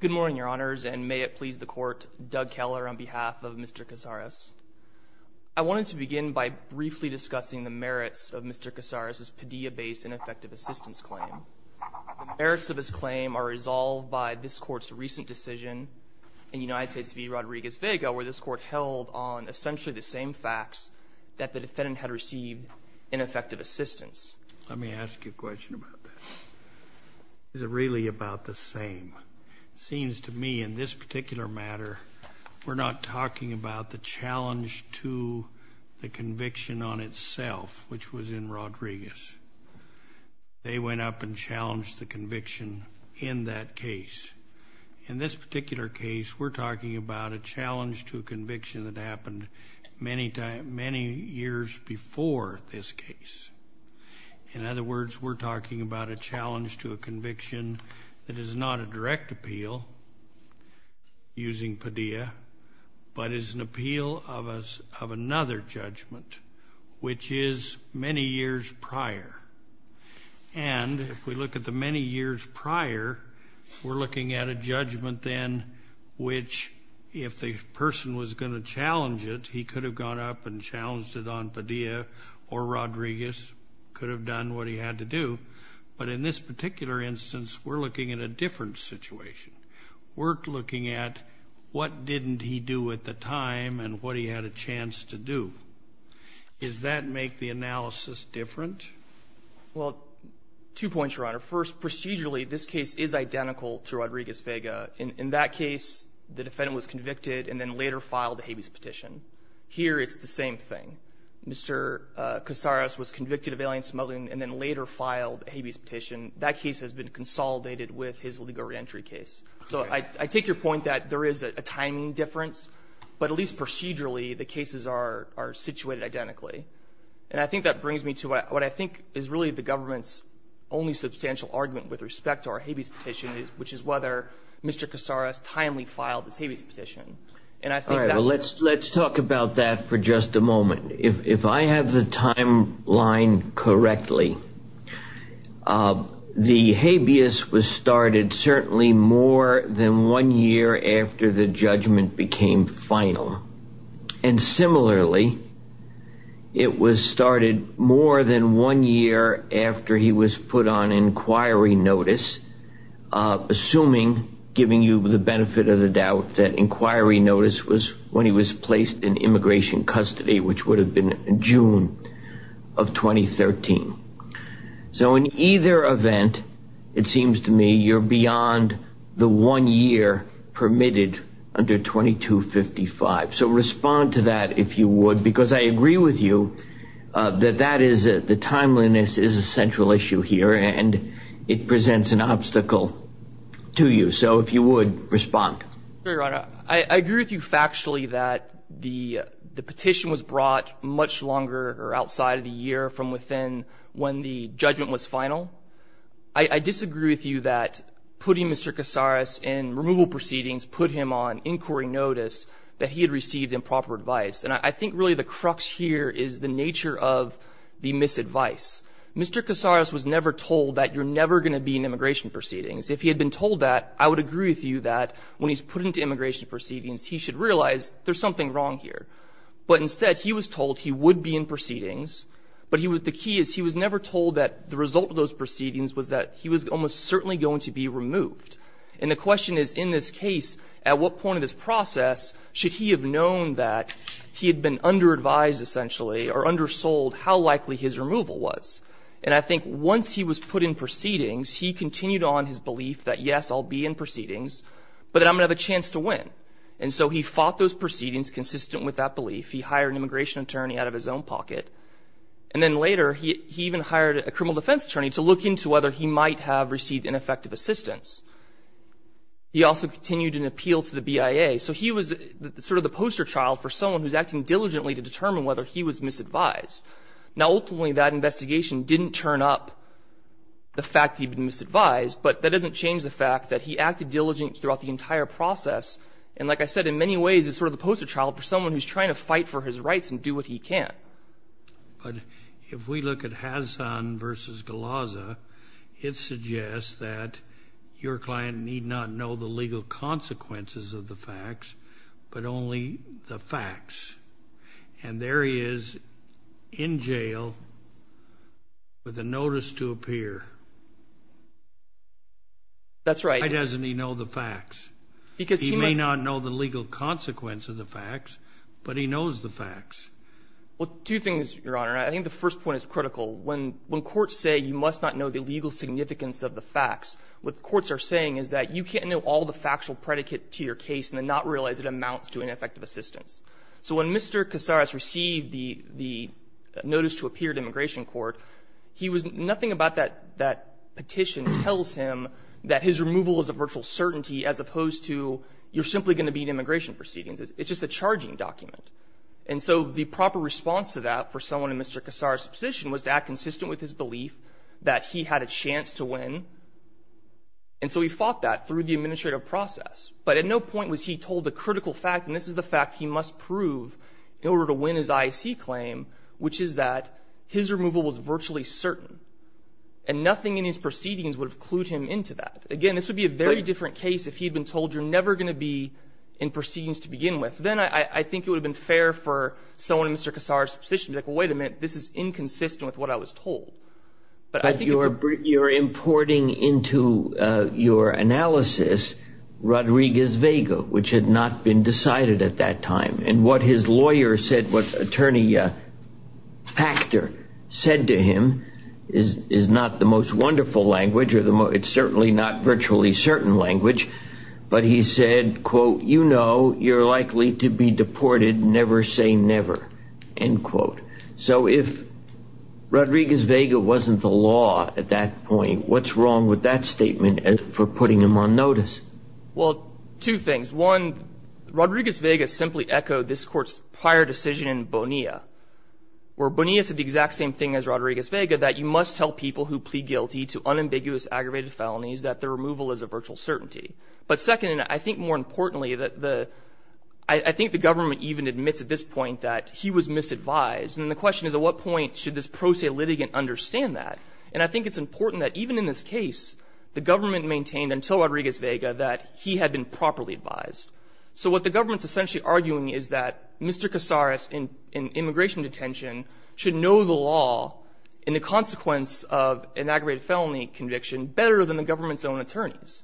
Good morning, Your Honors, and may it please the Court, Doug Keller on behalf of Mr. Cazares. I wanted to begin by briefly discussing the merits of Mr. Cazares' Padilla-based ineffective assistance claim. The merits of his claim are resolved by this Court's recent decision in United States v. Rodriguez-Vega, where this Court held on essentially the same facts that the defendant had received in effective assistance. Let me ask you a question about that. Is it really about the same? It seems to me in this particular matter we're not talking about the challenge to the conviction on itself, which was in Rodriguez. They went up and challenged the conviction in that case. In this particular case, we're talking about a challenge to a conviction that happened many years before this case. In other words, we're talking about a challenge to a conviction that is not a direct appeal using Padilla, but is an appeal of another judgment, which is many years prior. And if we look at the many years prior, we're looking at a judgment then which, if the person was going to challenge it, he could have gone up and challenged it on Padilla or Rodriguez, could have done what he had to do. But in this particular instance, we're looking at a different situation. We're looking at what didn't he do at the time and what he had a chance to do. Does that make the analysis different? Well, two points, Your Honor. First, procedurally, this case is identical to Rodriguez-Vega. In that case, the defendant was convicted and then later filed a habeas petition. Here, it's the same thing. Mr. Casares was convicted of alien smuggling and then later filed a habeas petition. That case has been consolidated with his legal reentry case. So I take your point that there is a timing difference, but at least procedurally, the cases are situated identically. And I think that brings me to what I think is really the government's only substantial argument with respect to our habeas petition, which is whether Mr. Casares timely filed his habeas petition. All right. Well, let's talk about that for just a moment. If I have the timeline correctly, the habeas was started certainly more than one year after the judgment became final. And similarly, it was started more than one year after he was put on inquiry notice, assuming, giving you the benefit of the doubt, that inquiry notice was when he was placed in immigration custody, which would have been in June of 2013. So in either event, it seems to me you're beyond the one year permitted under 2255. So respond to that, if you would, because I agree with you that that is the timeliness is a central issue here and it presents an obstacle to you. So if you would respond. I agree with you factually that the petition was brought much longer or outside of the year from within when the judgment was final. I disagree with you that putting Mr. Casares in removal proceedings put him on inquiry notice that he had received improper advice. And I think really the crux here is the nature of the misadvice. Mr. Casares was never told that you're never going to be in immigration proceedings. If he had been told that, I would agree with you that when he's put into immigration proceedings, he should realize there's something wrong here. But instead, he was told he would be in proceedings, but he was the key is he was never told that the result of those proceedings was that he was almost certainly going to be removed. And the question is, in this case, at what point of this process should he have known that he had been under-advised, essentially, or undersold how likely his removal was? And I think once he was put in proceedings, he continued on his belief that, yes, I'll be in proceedings, but that I'm going to have a chance to win. And so he fought those proceedings consistent with that belief. He hired an immigration attorney out of his own pocket. And then later, he even hired a criminal defense attorney to look into whether he might have received ineffective assistance. He also continued an appeal to the BIA. So he was sort of the poster child for someone who's acting diligently to determine whether he was misadvised. Now, ultimately, that investigation didn't turn up the fact that he'd been misadvised, but that doesn't change the fact that he acted diligently throughout the entire process. And like I said, in many ways, he's sort of the poster child for someone who's trying to fight for his rights and do what he can. But if we look at Hazan versus Galaza, it suggests that your client need not know the legal consequences of the facts, but only the facts. And there he is in jail with a notice to appear. That's right. Why doesn't he know the facts? Because he might not know the legal consequence of the facts, but he knows the facts. Well, two things, Your Honor. I think the first point is critical. When courts say you must not know the legal significance of the facts, what the courts are saying is that you can't know all the factual predicate to your case and then not realize it amounts to ineffective assistance. So when Mr. Casares received the notice to appear at immigration court, he was nothing about that petition tells him that his removal is a virtual certainty, as opposed to you're simply going to be in immigration proceedings. It's just a charging document. And so the proper response to that for someone in Mr. Casares' position was to act consistent with his belief that he had a chance to win. And so he fought that through the administrative process. But at no point was he told the critical fact, and this is the fact he must prove in which is that his removal was virtually certain, and nothing in his proceedings would have clued him into that. Again, this would be a very different case if he had been told you're never going to be in proceedings to begin with. Then I think it would have been fair for someone in Mr. Casares' position to be like, well, wait a minute, this is inconsistent with what I was told. But I think it could be fair. But you're importing into your analysis Rodriguez-Vega, which had not been decided at that time. And what his lawyer said, what attorney Pachter said to him is not the most wonderful language, or it's certainly not virtually certain language. But he said, quote, you know, you're likely to be deported, never say never, end quote. So if Rodriguez-Vega wasn't the law at that point, what's wrong with that statement for putting him on notice? Well, two things. One, Rodriguez-Vega simply echoed this Court's prior decision in Bonilla, where Bonilla said the exact same thing as Rodriguez-Vega, that you must tell people who plead guilty to unambiguous aggravated felonies that their removal is a virtual certainty. But second, and I think more importantly, I think the government even admits at this point that he was misadvised. And the question is, at what point should this pro se litigant understand that? And I think it's important that even in this case, the government maintained until Rodriguez-Vega that he had been properly advised. So what the government is essentially arguing is that Mr. Casares in immigration detention should know the law and the consequence of an aggravated felony conviction better than the government's own attorneys.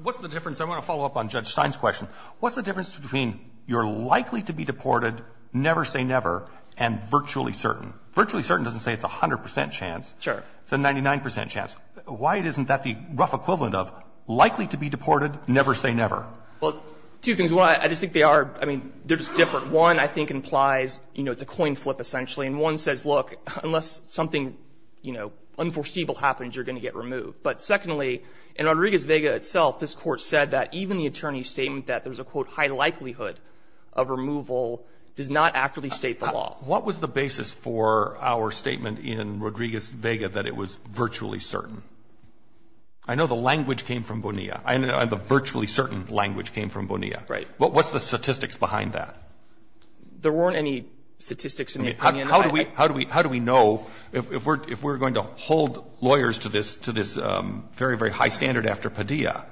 What's the difference? I want to follow up on Judge Stein's question. What's the difference between you're likely to be deported, never say never, and virtually certain? Virtually certain doesn't say it's a 100 percent chance. Sure. It's a 99 percent chance. Why isn't that the rough equivalent of likely to be deported, never say never? Well, two things. One, I just think they are — I mean, they're just different. One, I think, implies, you know, it's a coin flip essentially. And one says, look, unless something, you know, unforeseeable happens, you're going to get removed. But secondly, in Rodriguez-Vega itself, this Court said that even the attorney's statement that there's a, quote, high likelihood of removal does not accurately state the law. What was the basis for our statement in Rodriguez-Vega that it was virtually certain? I know the language came from Bonilla. I know the virtually certain language came from Bonilla. Right. What's the statistics behind that? There weren't any statistics in the opinion. How do we know, if we're going to hold lawyers to this very, very high standard after Padilla,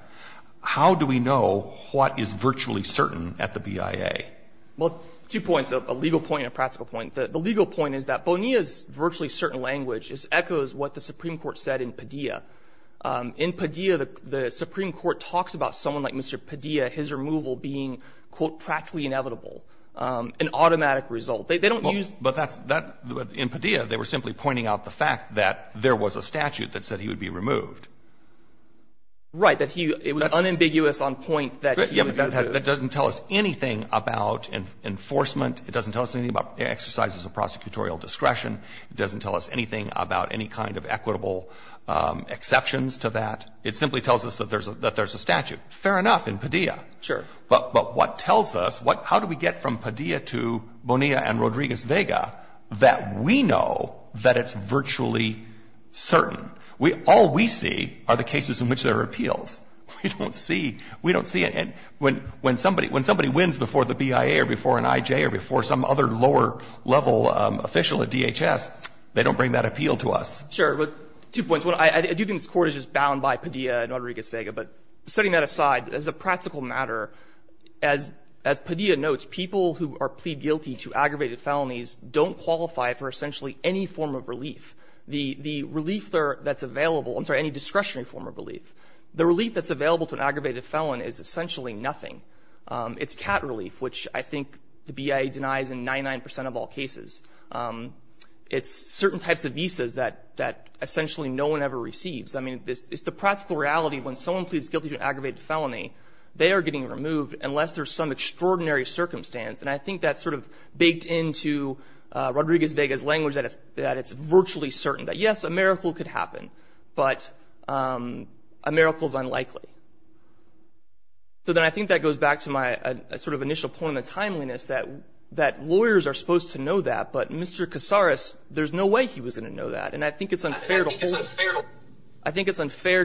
how do we know what is virtually certain at the BIA? Well, two points, a legal point and a practical point. The legal point is that Bonilla's virtually certain language echoes what the Supreme Court said in Padilla. In Padilla, the Supreme Court talks about someone like Mr. Padilla, his removal being, quote, practically inevitable, an automatic result. They don't use the law. But that's that — in Padilla, they were simply pointing out the fact that there was a statute that said he would be removed. Right. That he — it was unambiguous on point that he would be removed. That doesn't tell us anything about enforcement. It doesn't tell us anything about exercises of prosecutorial discretion. It doesn't tell us anything about any kind of equitable exceptions to that. It simply tells us that there's a statute. Fair enough in Padilla. Sure. But what tells us, how do we get from Padilla to Bonilla and Rodriguez-Vega that we know that it's virtually certain? All we see are the cases in which there are appeals. We don't see — we don't see it. And when somebody wins before the BIA or before an IJ or before some other lower level official at DHS, they don't bring that appeal to us. Sure. But two points. One, I do think this Court is just bound by Padilla and Rodriguez-Vega. But setting that aside, as a practical matter, as Padilla notes, people who are plead guilty to aggravated felonies don't qualify for essentially any form of relief. The relief that's available — I'm sorry, any discretionary form of relief. The relief that's available to an aggravated felon is essentially nothing. It's cat relief, which I think the BIA denies in 99 percent of all cases. It's certain types of visas that essentially no one ever receives. I mean, it's the practical reality when someone pleads guilty to an aggravated felony, they are getting removed unless there's some extraordinary circumstance. And I think that's sort of baked into Rodriguez-Vega's language that it's virtually certain that, yes, a miracle could happen. But a miracle is unlikely. So then I think that goes back to my sort of initial point on the timeliness, that lawyers are supposed to know that. But Mr. Casares, there's no way he was going to know that. And I think it's unfair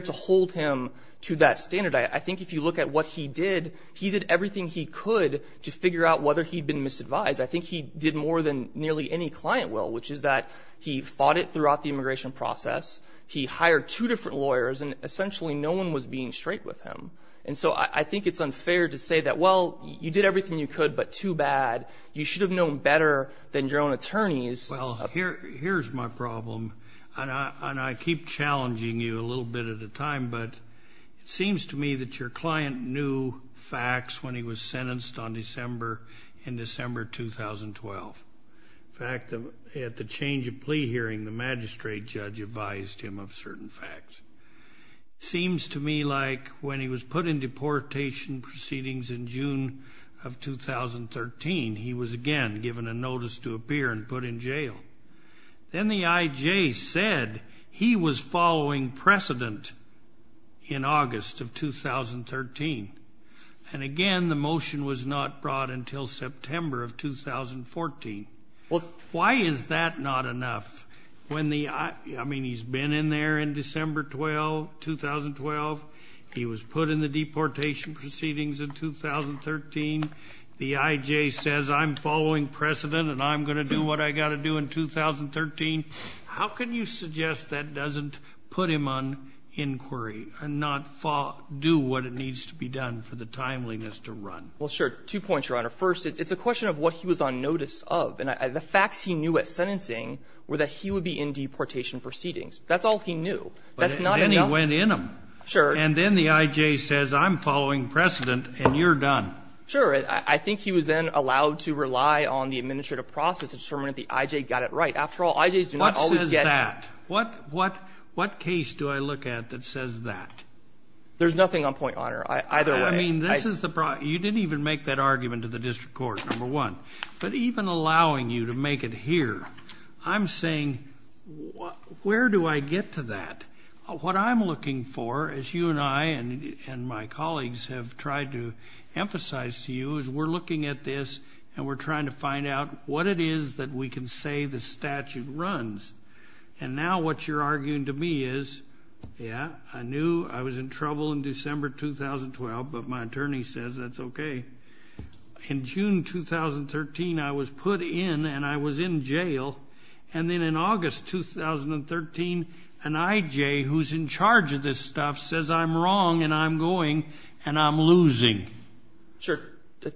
to hold him to that standard. I think if you look at what he did, he did everything he could to figure out whether he'd been misadvised. I think he did more than nearly any client will, which is that he fought it throughout the immigration process. He hired two different lawyers, and essentially no one was being straight with him. And so I think it's unfair to say that, well, you did everything you could, but too bad. You should have known better than your own attorneys. Well, here's my problem, and I keep challenging you a little bit at a time. But it seems to me that your client knew facts when he was sentenced on December in December 2012. In fact, at the change of plea hearing, the magistrate judge advised him of certain facts. Seems to me like when he was put in deportation proceedings in June of 2013, he was again given a notice to appear and put in jail. Then the IJ said he was following precedent in August of 2013. And again, the motion was not brought until September of 2014. Well, why is that not enough? I mean, he's been in there in December 2012. He was put in the deportation proceedings in 2013. The IJ says, I'm following precedent, and I'm going to do what I got to do in 2013. How can you suggest that doesn't put him on inquiry and not do what it needs to be done for the timeliness to run? Well, sure. Two points, Your Honor. First, it's a question of what he was on notice of. And the facts he knew at sentencing were that he would be in deportation proceedings. That's all he knew. That's not enough. But then he went in them. Sure. And then the IJ says, I'm following precedent, and you're done. Sure. I think he was then allowed to rely on the administrative process to determine if the IJ got it right. After all, IJs do not always get to do that. What says that? What case do I look at that says that? There's nothing on point, Your Honor. I mean, this is the problem. You didn't even make that argument to the district court, number one. But even allowing you to make it here, I'm saying, where do I get to that? What I'm looking for, as you and I and my colleagues have tried to emphasize to you, is we're looking at this, and we're trying to find out what it is that we can say the statute runs. And now what you're arguing to me is, yeah, I knew I was in trouble in 2012, but my attorney says that's OK. In June 2013, I was put in, and I was in jail. And then in August 2013, an IJ who's in charge of this stuff says I'm wrong, and I'm going, and I'm losing. Sure.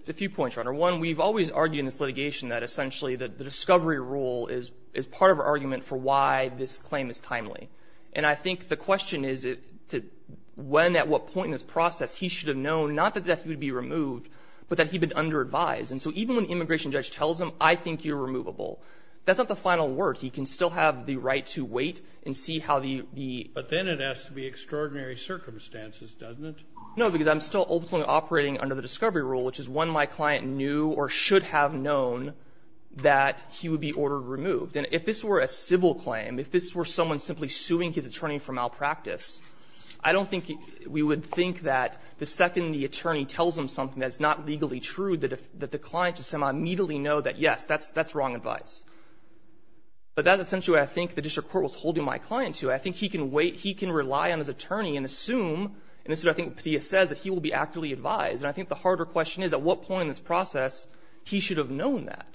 A few points, Your Honor. One, we've always argued in this litigation that essentially the discovery rule is part of our argument for why this claim is timely. And I think the question is, when, at what point in this process, he should have known not that he would be removed, but that he'd been under-advised. And so even when the immigration judge tells him, I think you're removable, that's not the final word. He can still have the right to wait and see how the ---- But then it has to be extraordinary circumstances, doesn't it? No, because I'm still ultimately operating under the discovery rule, which is when my client knew or should have known that he would be ordered removed. And if this were a civil claim, if this were someone simply suing his attorney for malpractice, I don't think we would think that the second the attorney tells him something that's not legally true, that the client just immediately know that, yes, that's wrong advice. But that's essentially what I think the district court was holding my client to. I think he can wait. He can rely on his attorney and assume, and this is what I think Petia says, that he will be accurately advised. And I think the harder question is, at what point in this process, he should have known that.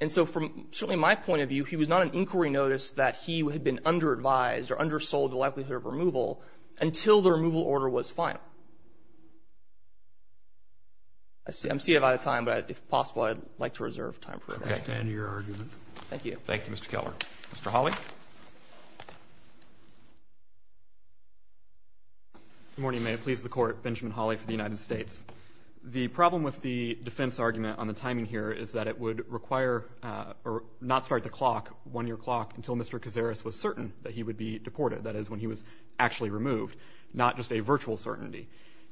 And so from certainly my point of view, he was not an inquiry notice that he had been under-advised or undersold the likelihood of removal until the removal order was final. I'm seeing I'm out of time, but if possible, I'd like to reserve time for that. Okay. I understand your argument. Thank you. Thank you, Mr. Keller. Mr. Hawley? Good morning, and may it please the Court, Benjamin Hawley for the United States. The problem with the defense argument on the timing here is that it would require or not start the clock, one-year clock, until Mr. Cazares was certain that he would be deported, that is, when he was actually removed, not just a virtual certainty.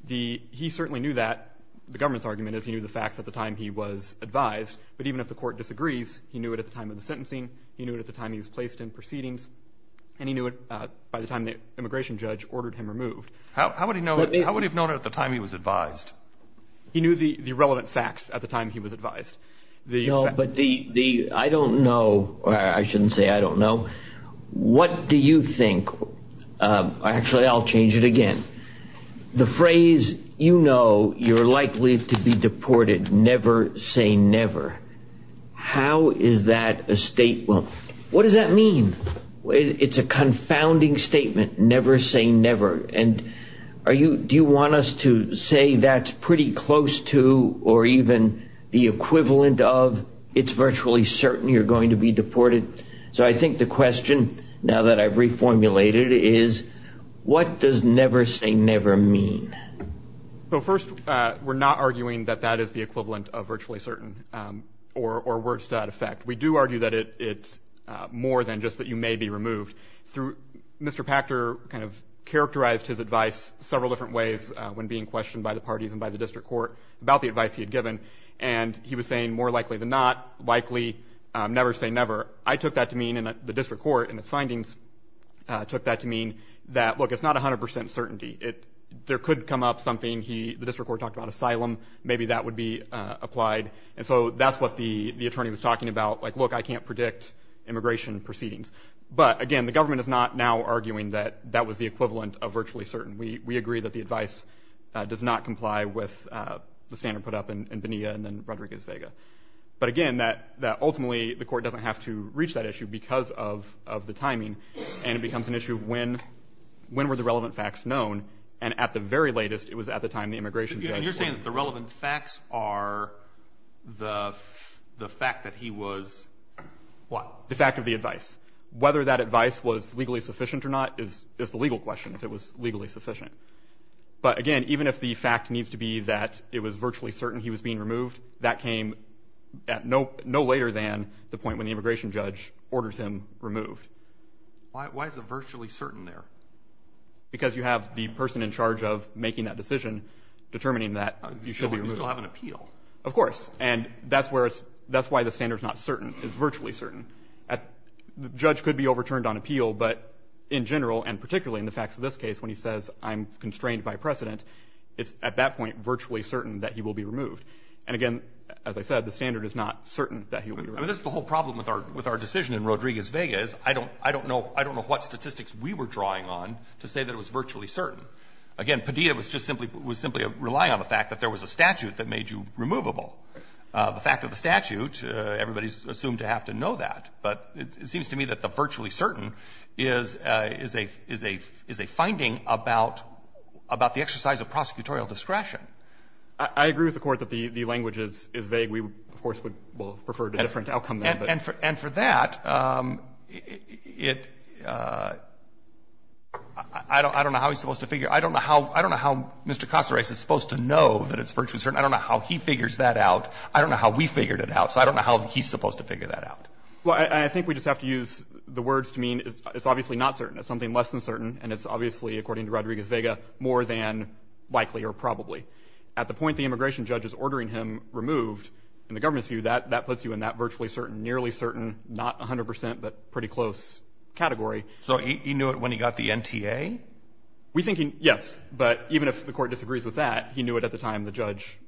He certainly knew that. The government's argument is he knew the facts at the time he was advised, but even if the Court disagrees, he knew it at the time of the sentencing, he knew it at the time he was placed in proceedings, and he knew it by the time the immigration judge ordered him removed. How would he have known it at the time he was advised? He knew the relevant facts at the time he was advised. No, but the, I don't know, or I shouldn't say I don't know, what do you think? Actually, I'll change it again. The phrase, you know, you're likely to be deported, never say never. How is that a statement? What does that mean? It's a confounding statement, never say never. And are you, do you want us to say that's pretty close to or even the equivalent of it's virtually certain you're going to be deported? So I think the question, now that I've reformulated it, is what does never say never mean? So first, we're not arguing that that is the equivalent of virtually certain or worse to that effect. We do argue that it's more than just that you may be removed. Through, Mr. Pachter kind of characterized his advice several different ways when being questioned by the parties and by the district court about the advice he had given. And he was saying, more likely than not, likely, never say never. I took that to mean, and the district court in its findings took that to mean that, look, it's not 100% certainty. There could come up something he, the district court talked about asylum. Maybe that would be applied. And so that's what the attorney was talking about. Like, look, I can't predict immigration proceedings. But again, the government is not now arguing that that was the equivalent of virtually certain. We agree that the advice does not comply with the standard put up in Bonilla and then Rodriguez-Vega. But again, that ultimately, the court doesn't have to reach that issue because of the timing. And it becomes an issue of when were the relevant facts known? And at the very latest, it was at the time the immigration judge- And you're saying that the relevant facts are the fact that he was what? The fact of the advice. Whether that advice was legally sufficient or not is the legal question, if it was legally sufficient. But again, even if the fact needs to be that it was virtually certain he was being removed, that came at no later than the point when the immigration judge orders him removed. Why is it virtually certain there? Because you have the person in charge of making that decision, determining that you should be removed. You still have an appeal. Of course. And that's where it's – that's why the standard's not certain. It's virtually certain. A judge could be overturned on appeal, but in general, and particularly in the facts of this case, when he says I'm constrained by precedent, it's at that point virtually certain that he will be removed. And again, as I said, the standard is not certain that he will be removed. I mean, this is the whole problem with our decision in Rodriguez-Vega is I don't know what statistics we were drawing on to say that it was virtually certain. Again, Padilla was just simply – was simply relying on the fact that there was a statute that made you removable. The fact of the statute, everybody's assumed to have to know that. But it seems to me that the virtually certain is a – is a finding about the exercise of prosecutorial discretion. I agree with the Court that the language is vague. We, of course, would have preferred a different outcome there. And for that, it – I don't know how he's supposed to figure – I don't know how Mr. Caceres is supposed to know that it's virtually certain. I don't know how he figures that out. I don't know how we figured it out. So I don't know how he's supposed to figure that out. Well, I think we just have to use the words to mean it's obviously not certain. It's something less than certain, and it's obviously, according to Rodriguez-Vega, more than likely or probably. At the point the immigration judge is ordering him removed, in the government's view, that puts you in that virtually certain, nearly certain, not 100 percent, but pretty close category. So he knew it when he got the NTA? We think he – yes. But even if the Court disagrees with that, he knew it at the time the judge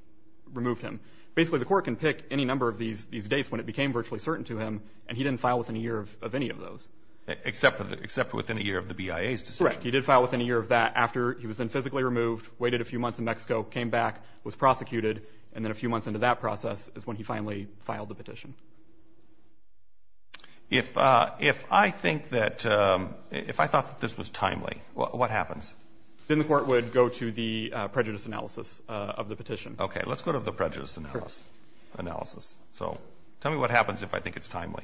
removed him. Basically, the Court can pick any number of these dates when it became virtually certain to him, and he didn't file within a year of any of those. Except for within a year of the BIA's decision. Correct. He did file within a year of that after he was then physically removed, waited a few months in Mexico, came back, was prosecuted, and then a few months into that process is when he finally filed the petition. If I think that – if I thought that this was timely, what happens? Then the Court would go to the prejudice analysis of the petition. Okay. Let's go to the prejudice analysis. So tell me what happens if I think it's timely.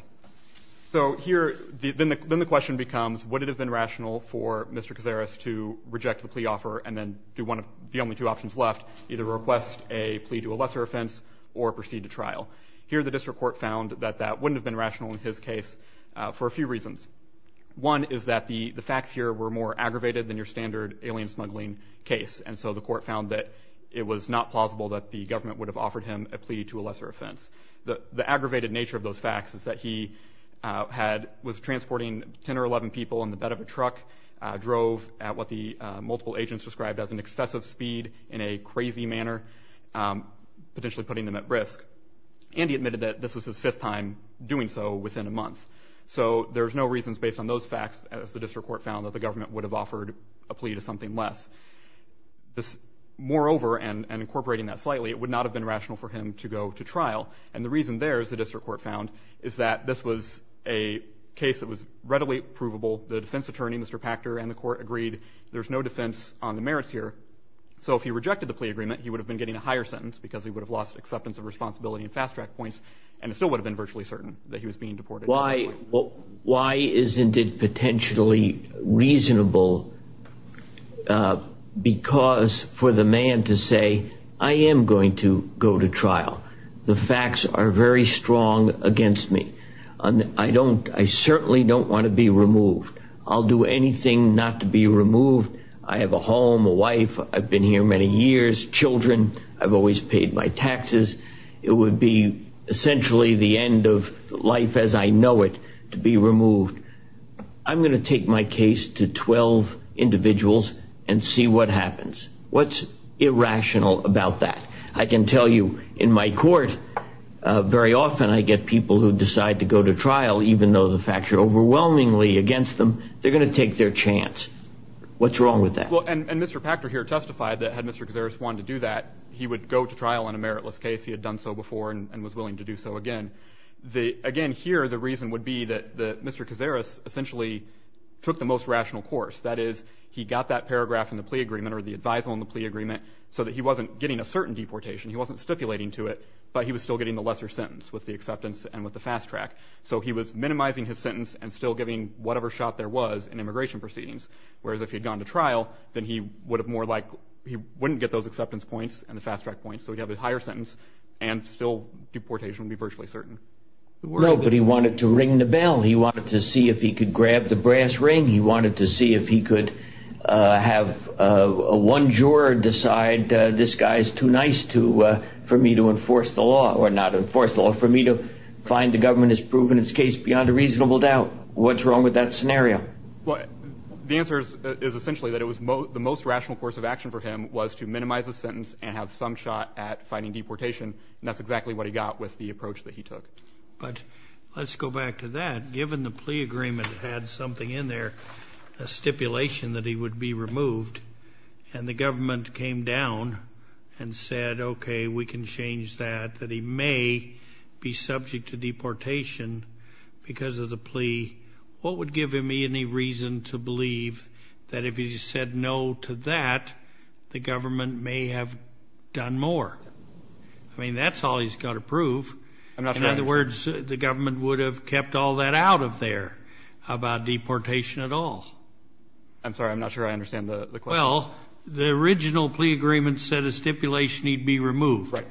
So here – then the question becomes, would it have been rational for Mr. Cazares to reject the plea offer and then do one of – the only two options left, either request a plea to a lesser offense or proceed to trial. Here the district court found that that wouldn't have been rational in his case for a few reasons. One is that the facts here were more aggravated than your standard alien smuggling case, and so the court found that it was not plausible that the government would have offered him a plea to a lesser offense. The aggravated nature of those facts is that he had – was transporting 10 or 11 people in the bed of a truck, drove at what the multiple agents described as an excessive speed in a crazy manner, potentially putting them at risk. And he admitted that this was his fifth time doing so within a month. So there's no reasons based on those facts, as the district court found, that the government would have offered a plea to something less. Moreover, and incorporating that slightly, it would not have been rational for him to go to trial. And the reason there, as the district court found, is that this was a case that was readily provable. The defense attorney, Mr. Pachter, and the court agreed there's no defense on the merits here. So if he rejected the plea agreement, he would have been getting a higher sentence because he would have lost acceptance of responsibility and fast-track points, and it still would have been virtually certain that he was being deported. Why isn't it potentially reasonable because for the man to say, I am going to go to trial, the facts are very strong against me, I don't – I certainly don't want to be removed, I'll do anything not to be removed, I have a home, a wife, I've been here many years, children, I've always paid my taxes, it would be essentially the end of life as I know it to be removed. I'm going to take my case to 12 individuals and see what happens. What's irrational about that? I can tell you in my court, very often I get people who decide to go to trial, even though the facts are overwhelmingly against them, they're going to take their chance. What's wrong with that? Well, and Mr. Pachter here testified that had Mr. Gazaris wanted to do that, he would go to trial on a meritless case, he had done so before and was willing to do so again. Again here, the reason would be that Mr. Gazaris essentially took the most rational course, that is, he got that paragraph in the plea agreement or the advisal in the plea agreement so that he wasn't getting a certain deportation, he wasn't stipulating to it, but he was still getting the lesser sentence with the acceptance and with the fast-track. So he was minimizing his sentence and still giving whatever shot there was in immigration proceedings, whereas if he had gone to trial, then he would have more likely – he wouldn't get those acceptance points and the fast-track points, so he'd have a higher sentence and still deportation would be virtually certain. No, but he wanted to ring the bell. He wanted to see if he could grab the brass ring. He wanted to see if he could have one juror decide, this guy is too nice for me to enforce the law – or not enforce the law, for me to find the government has proven its case beyond a reasonable doubt. What's wrong with that scenario? The answer is essentially that it was – the most rational course of action for him was to minimize the sentence and have some shot at finding deportation, and that's exactly what he got with the approach that he took. But let's go back to that. Given the plea agreement had something in there, a stipulation that he would be removed, and the government came down and said, okay, we can change that, that he may be subject to deportation because of the plea, what would give him any reason to believe that if he said no to that, the government may have done more? I mean, that's all he's got to prove. I'm not sure I understand. In other words, the government would have kept all that out of there about deportation at all. I'm sorry. I'm not sure I understand the question. Well, the original plea agreement said a stipulation he'd be removed. Right.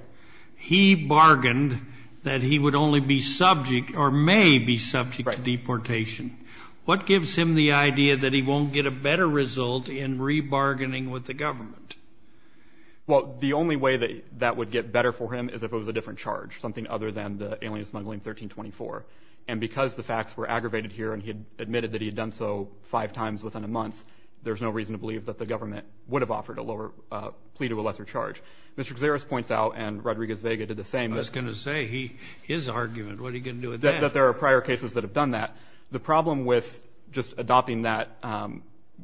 He bargained that he would only be subject or may be subject to deportation. Right. What gives him the idea that he won't get a better result in rebargaining with the government? Well, the only way that that would get better for him is if it was a different charge, something other than the Alien Smuggling 1324. And because the facts were aggravated here and he admitted that he had done so five times within a month, there's no reason to believe that the government would have offered a lower plea to a lesser charge. Mr. Gazaris points out, and Rodriguez-Vega did the same, that — I was going to say, his argument, what are you going to do with that? That there are prior cases that have done that. The problem with just adopting that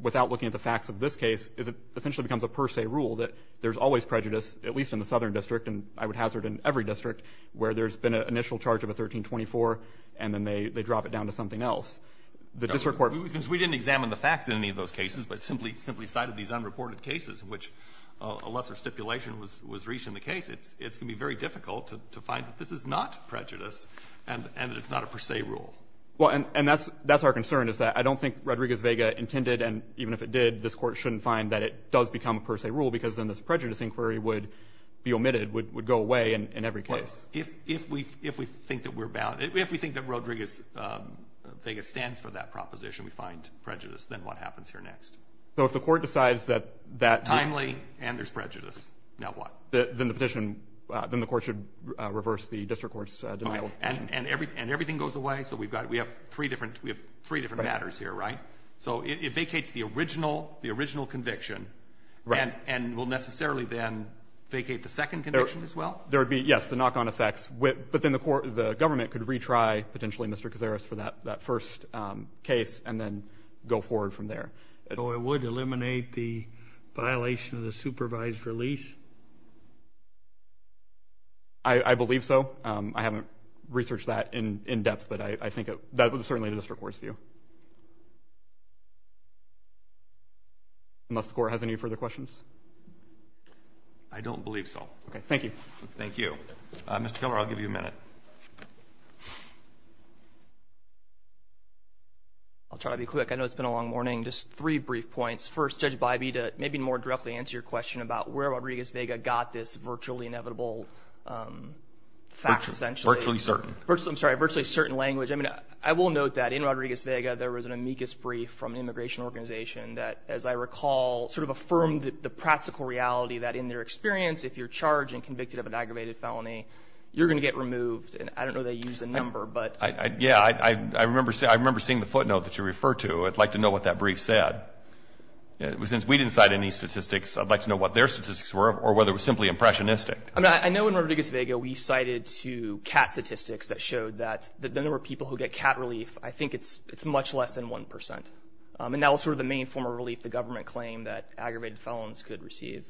without looking at the facts of this case is it essentially becomes a per se rule that there's always prejudice, at least in the Southern District and I would hazard in every district, where there's been an initial charge of a 1324 and then they drop it down to something else. The district court — Since we didn't examine the facts in any of those cases but simply cited these unreported cases in which a lesser stipulation was reached in the case, it's going to be very difficult to find that this is not prejudice and that it's not a per se rule. Well, and that's our concern, is that I don't think Rodriguez-Vega intended, and even if it did, this court shouldn't find that it does become a per se rule because then this prejudice inquiry would be omitted, would go away in every case. Well, if we think that we're — if we think that Rodriguez-Vega stands for that proposition, we find prejudice, then what happens here next? So if the court decides that — Timely, and there's prejudice. Now what? Then the petition — then the court should reverse the district court's denial of petition. And everything goes away? So we've got — we have three different matters here, right? So it vacates the original conviction and will necessarily then vacate the second conviction as well? There would be, yes, the knock-on effects, but then the government could retry potentially Mr. Cazares for that first case and then go forward from there. So it would eliminate the violation of the supervised release? I believe so. I haven't researched that in depth, but I think it — that was certainly the district court's view. Unless the court has any further questions? I don't believe so. Okay. Thank you. Thank you. Mr. Keller, I'll give you a minute. I'll try to be quick. I know it's been a long morning. Just three brief points. First, Judge Bybee, to maybe more directly answer your question about where Rodriguez-Vega got this virtually inevitable fact, essentially. Virtually certain. I'm sorry, virtually certain language. I mean, I will note that in Rodriguez-Vega, there was an amicus brief from an immigration organization that, as I recall, sort of affirmed the practical reality that in their experience, if you're charged and convicted of an aggravated felony, you're going to get removed. And I don't know if they use a number, but — Yeah, I remember seeing the footnote that you refer to. I'd like to know what that brief said. Since we didn't cite any statistics, I'd like to know what their statistics were or whether it was simply impressionistic. I mean, I know in Rodriguez-Vega, we cited two cat statistics that showed that the number of people who get cat relief, I think it's much less than 1 percent. And that was sort of the main form of relief the government claimed that aggravated felons could receive.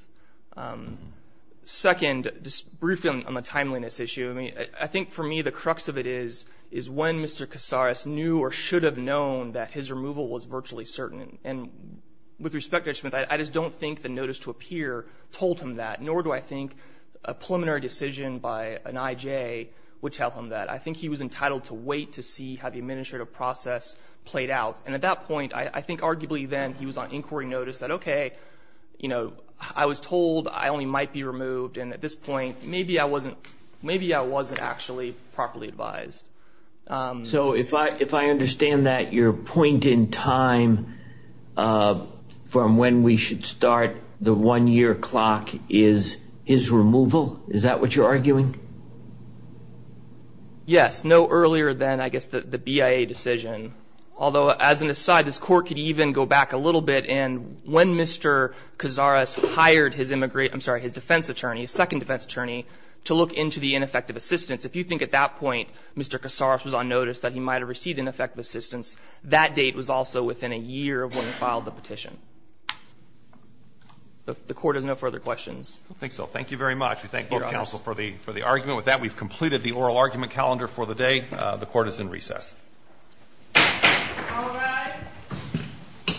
Second, just briefly on the timeliness issue, I mean, I think for me the crux of it is, is when Mr. Casares knew or should have known that his removal was virtually certain. And with respect to Ed Schmidt, I just don't think the notice to appear told him that, nor do I think a preliminary decision by an I.J. would tell him that. I think he was entitled to wait to see how the administrative process played out. And at that point, I think arguably then he was on inquiry notice that, okay, you know, I was told I only might be removed, and at this point, maybe I wasn't — maybe I wasn't actually properly advised. So if I understand that, your point in time from when we should start the one-year clock is his removal? Is that what you're arguing? Yes. No earlier than, I guess, the BIA decision, although as an aside, this court could even go back a little bit. And when Mr. Casares hired his immigrant — I'm sorry, his defense attorney, his second defense attorney to look into the ineffective assistance. If you think at that point Mr. Casares was on notice that he might have received ineffective assistance, that date was also within a year of when he filed the petition. The Court has no further questions. I don't think so. Thank you very much. We thank both counsel for the — for the argument. With that, we've completed the oral argument calendar for the day. The Court is in recess. All rise.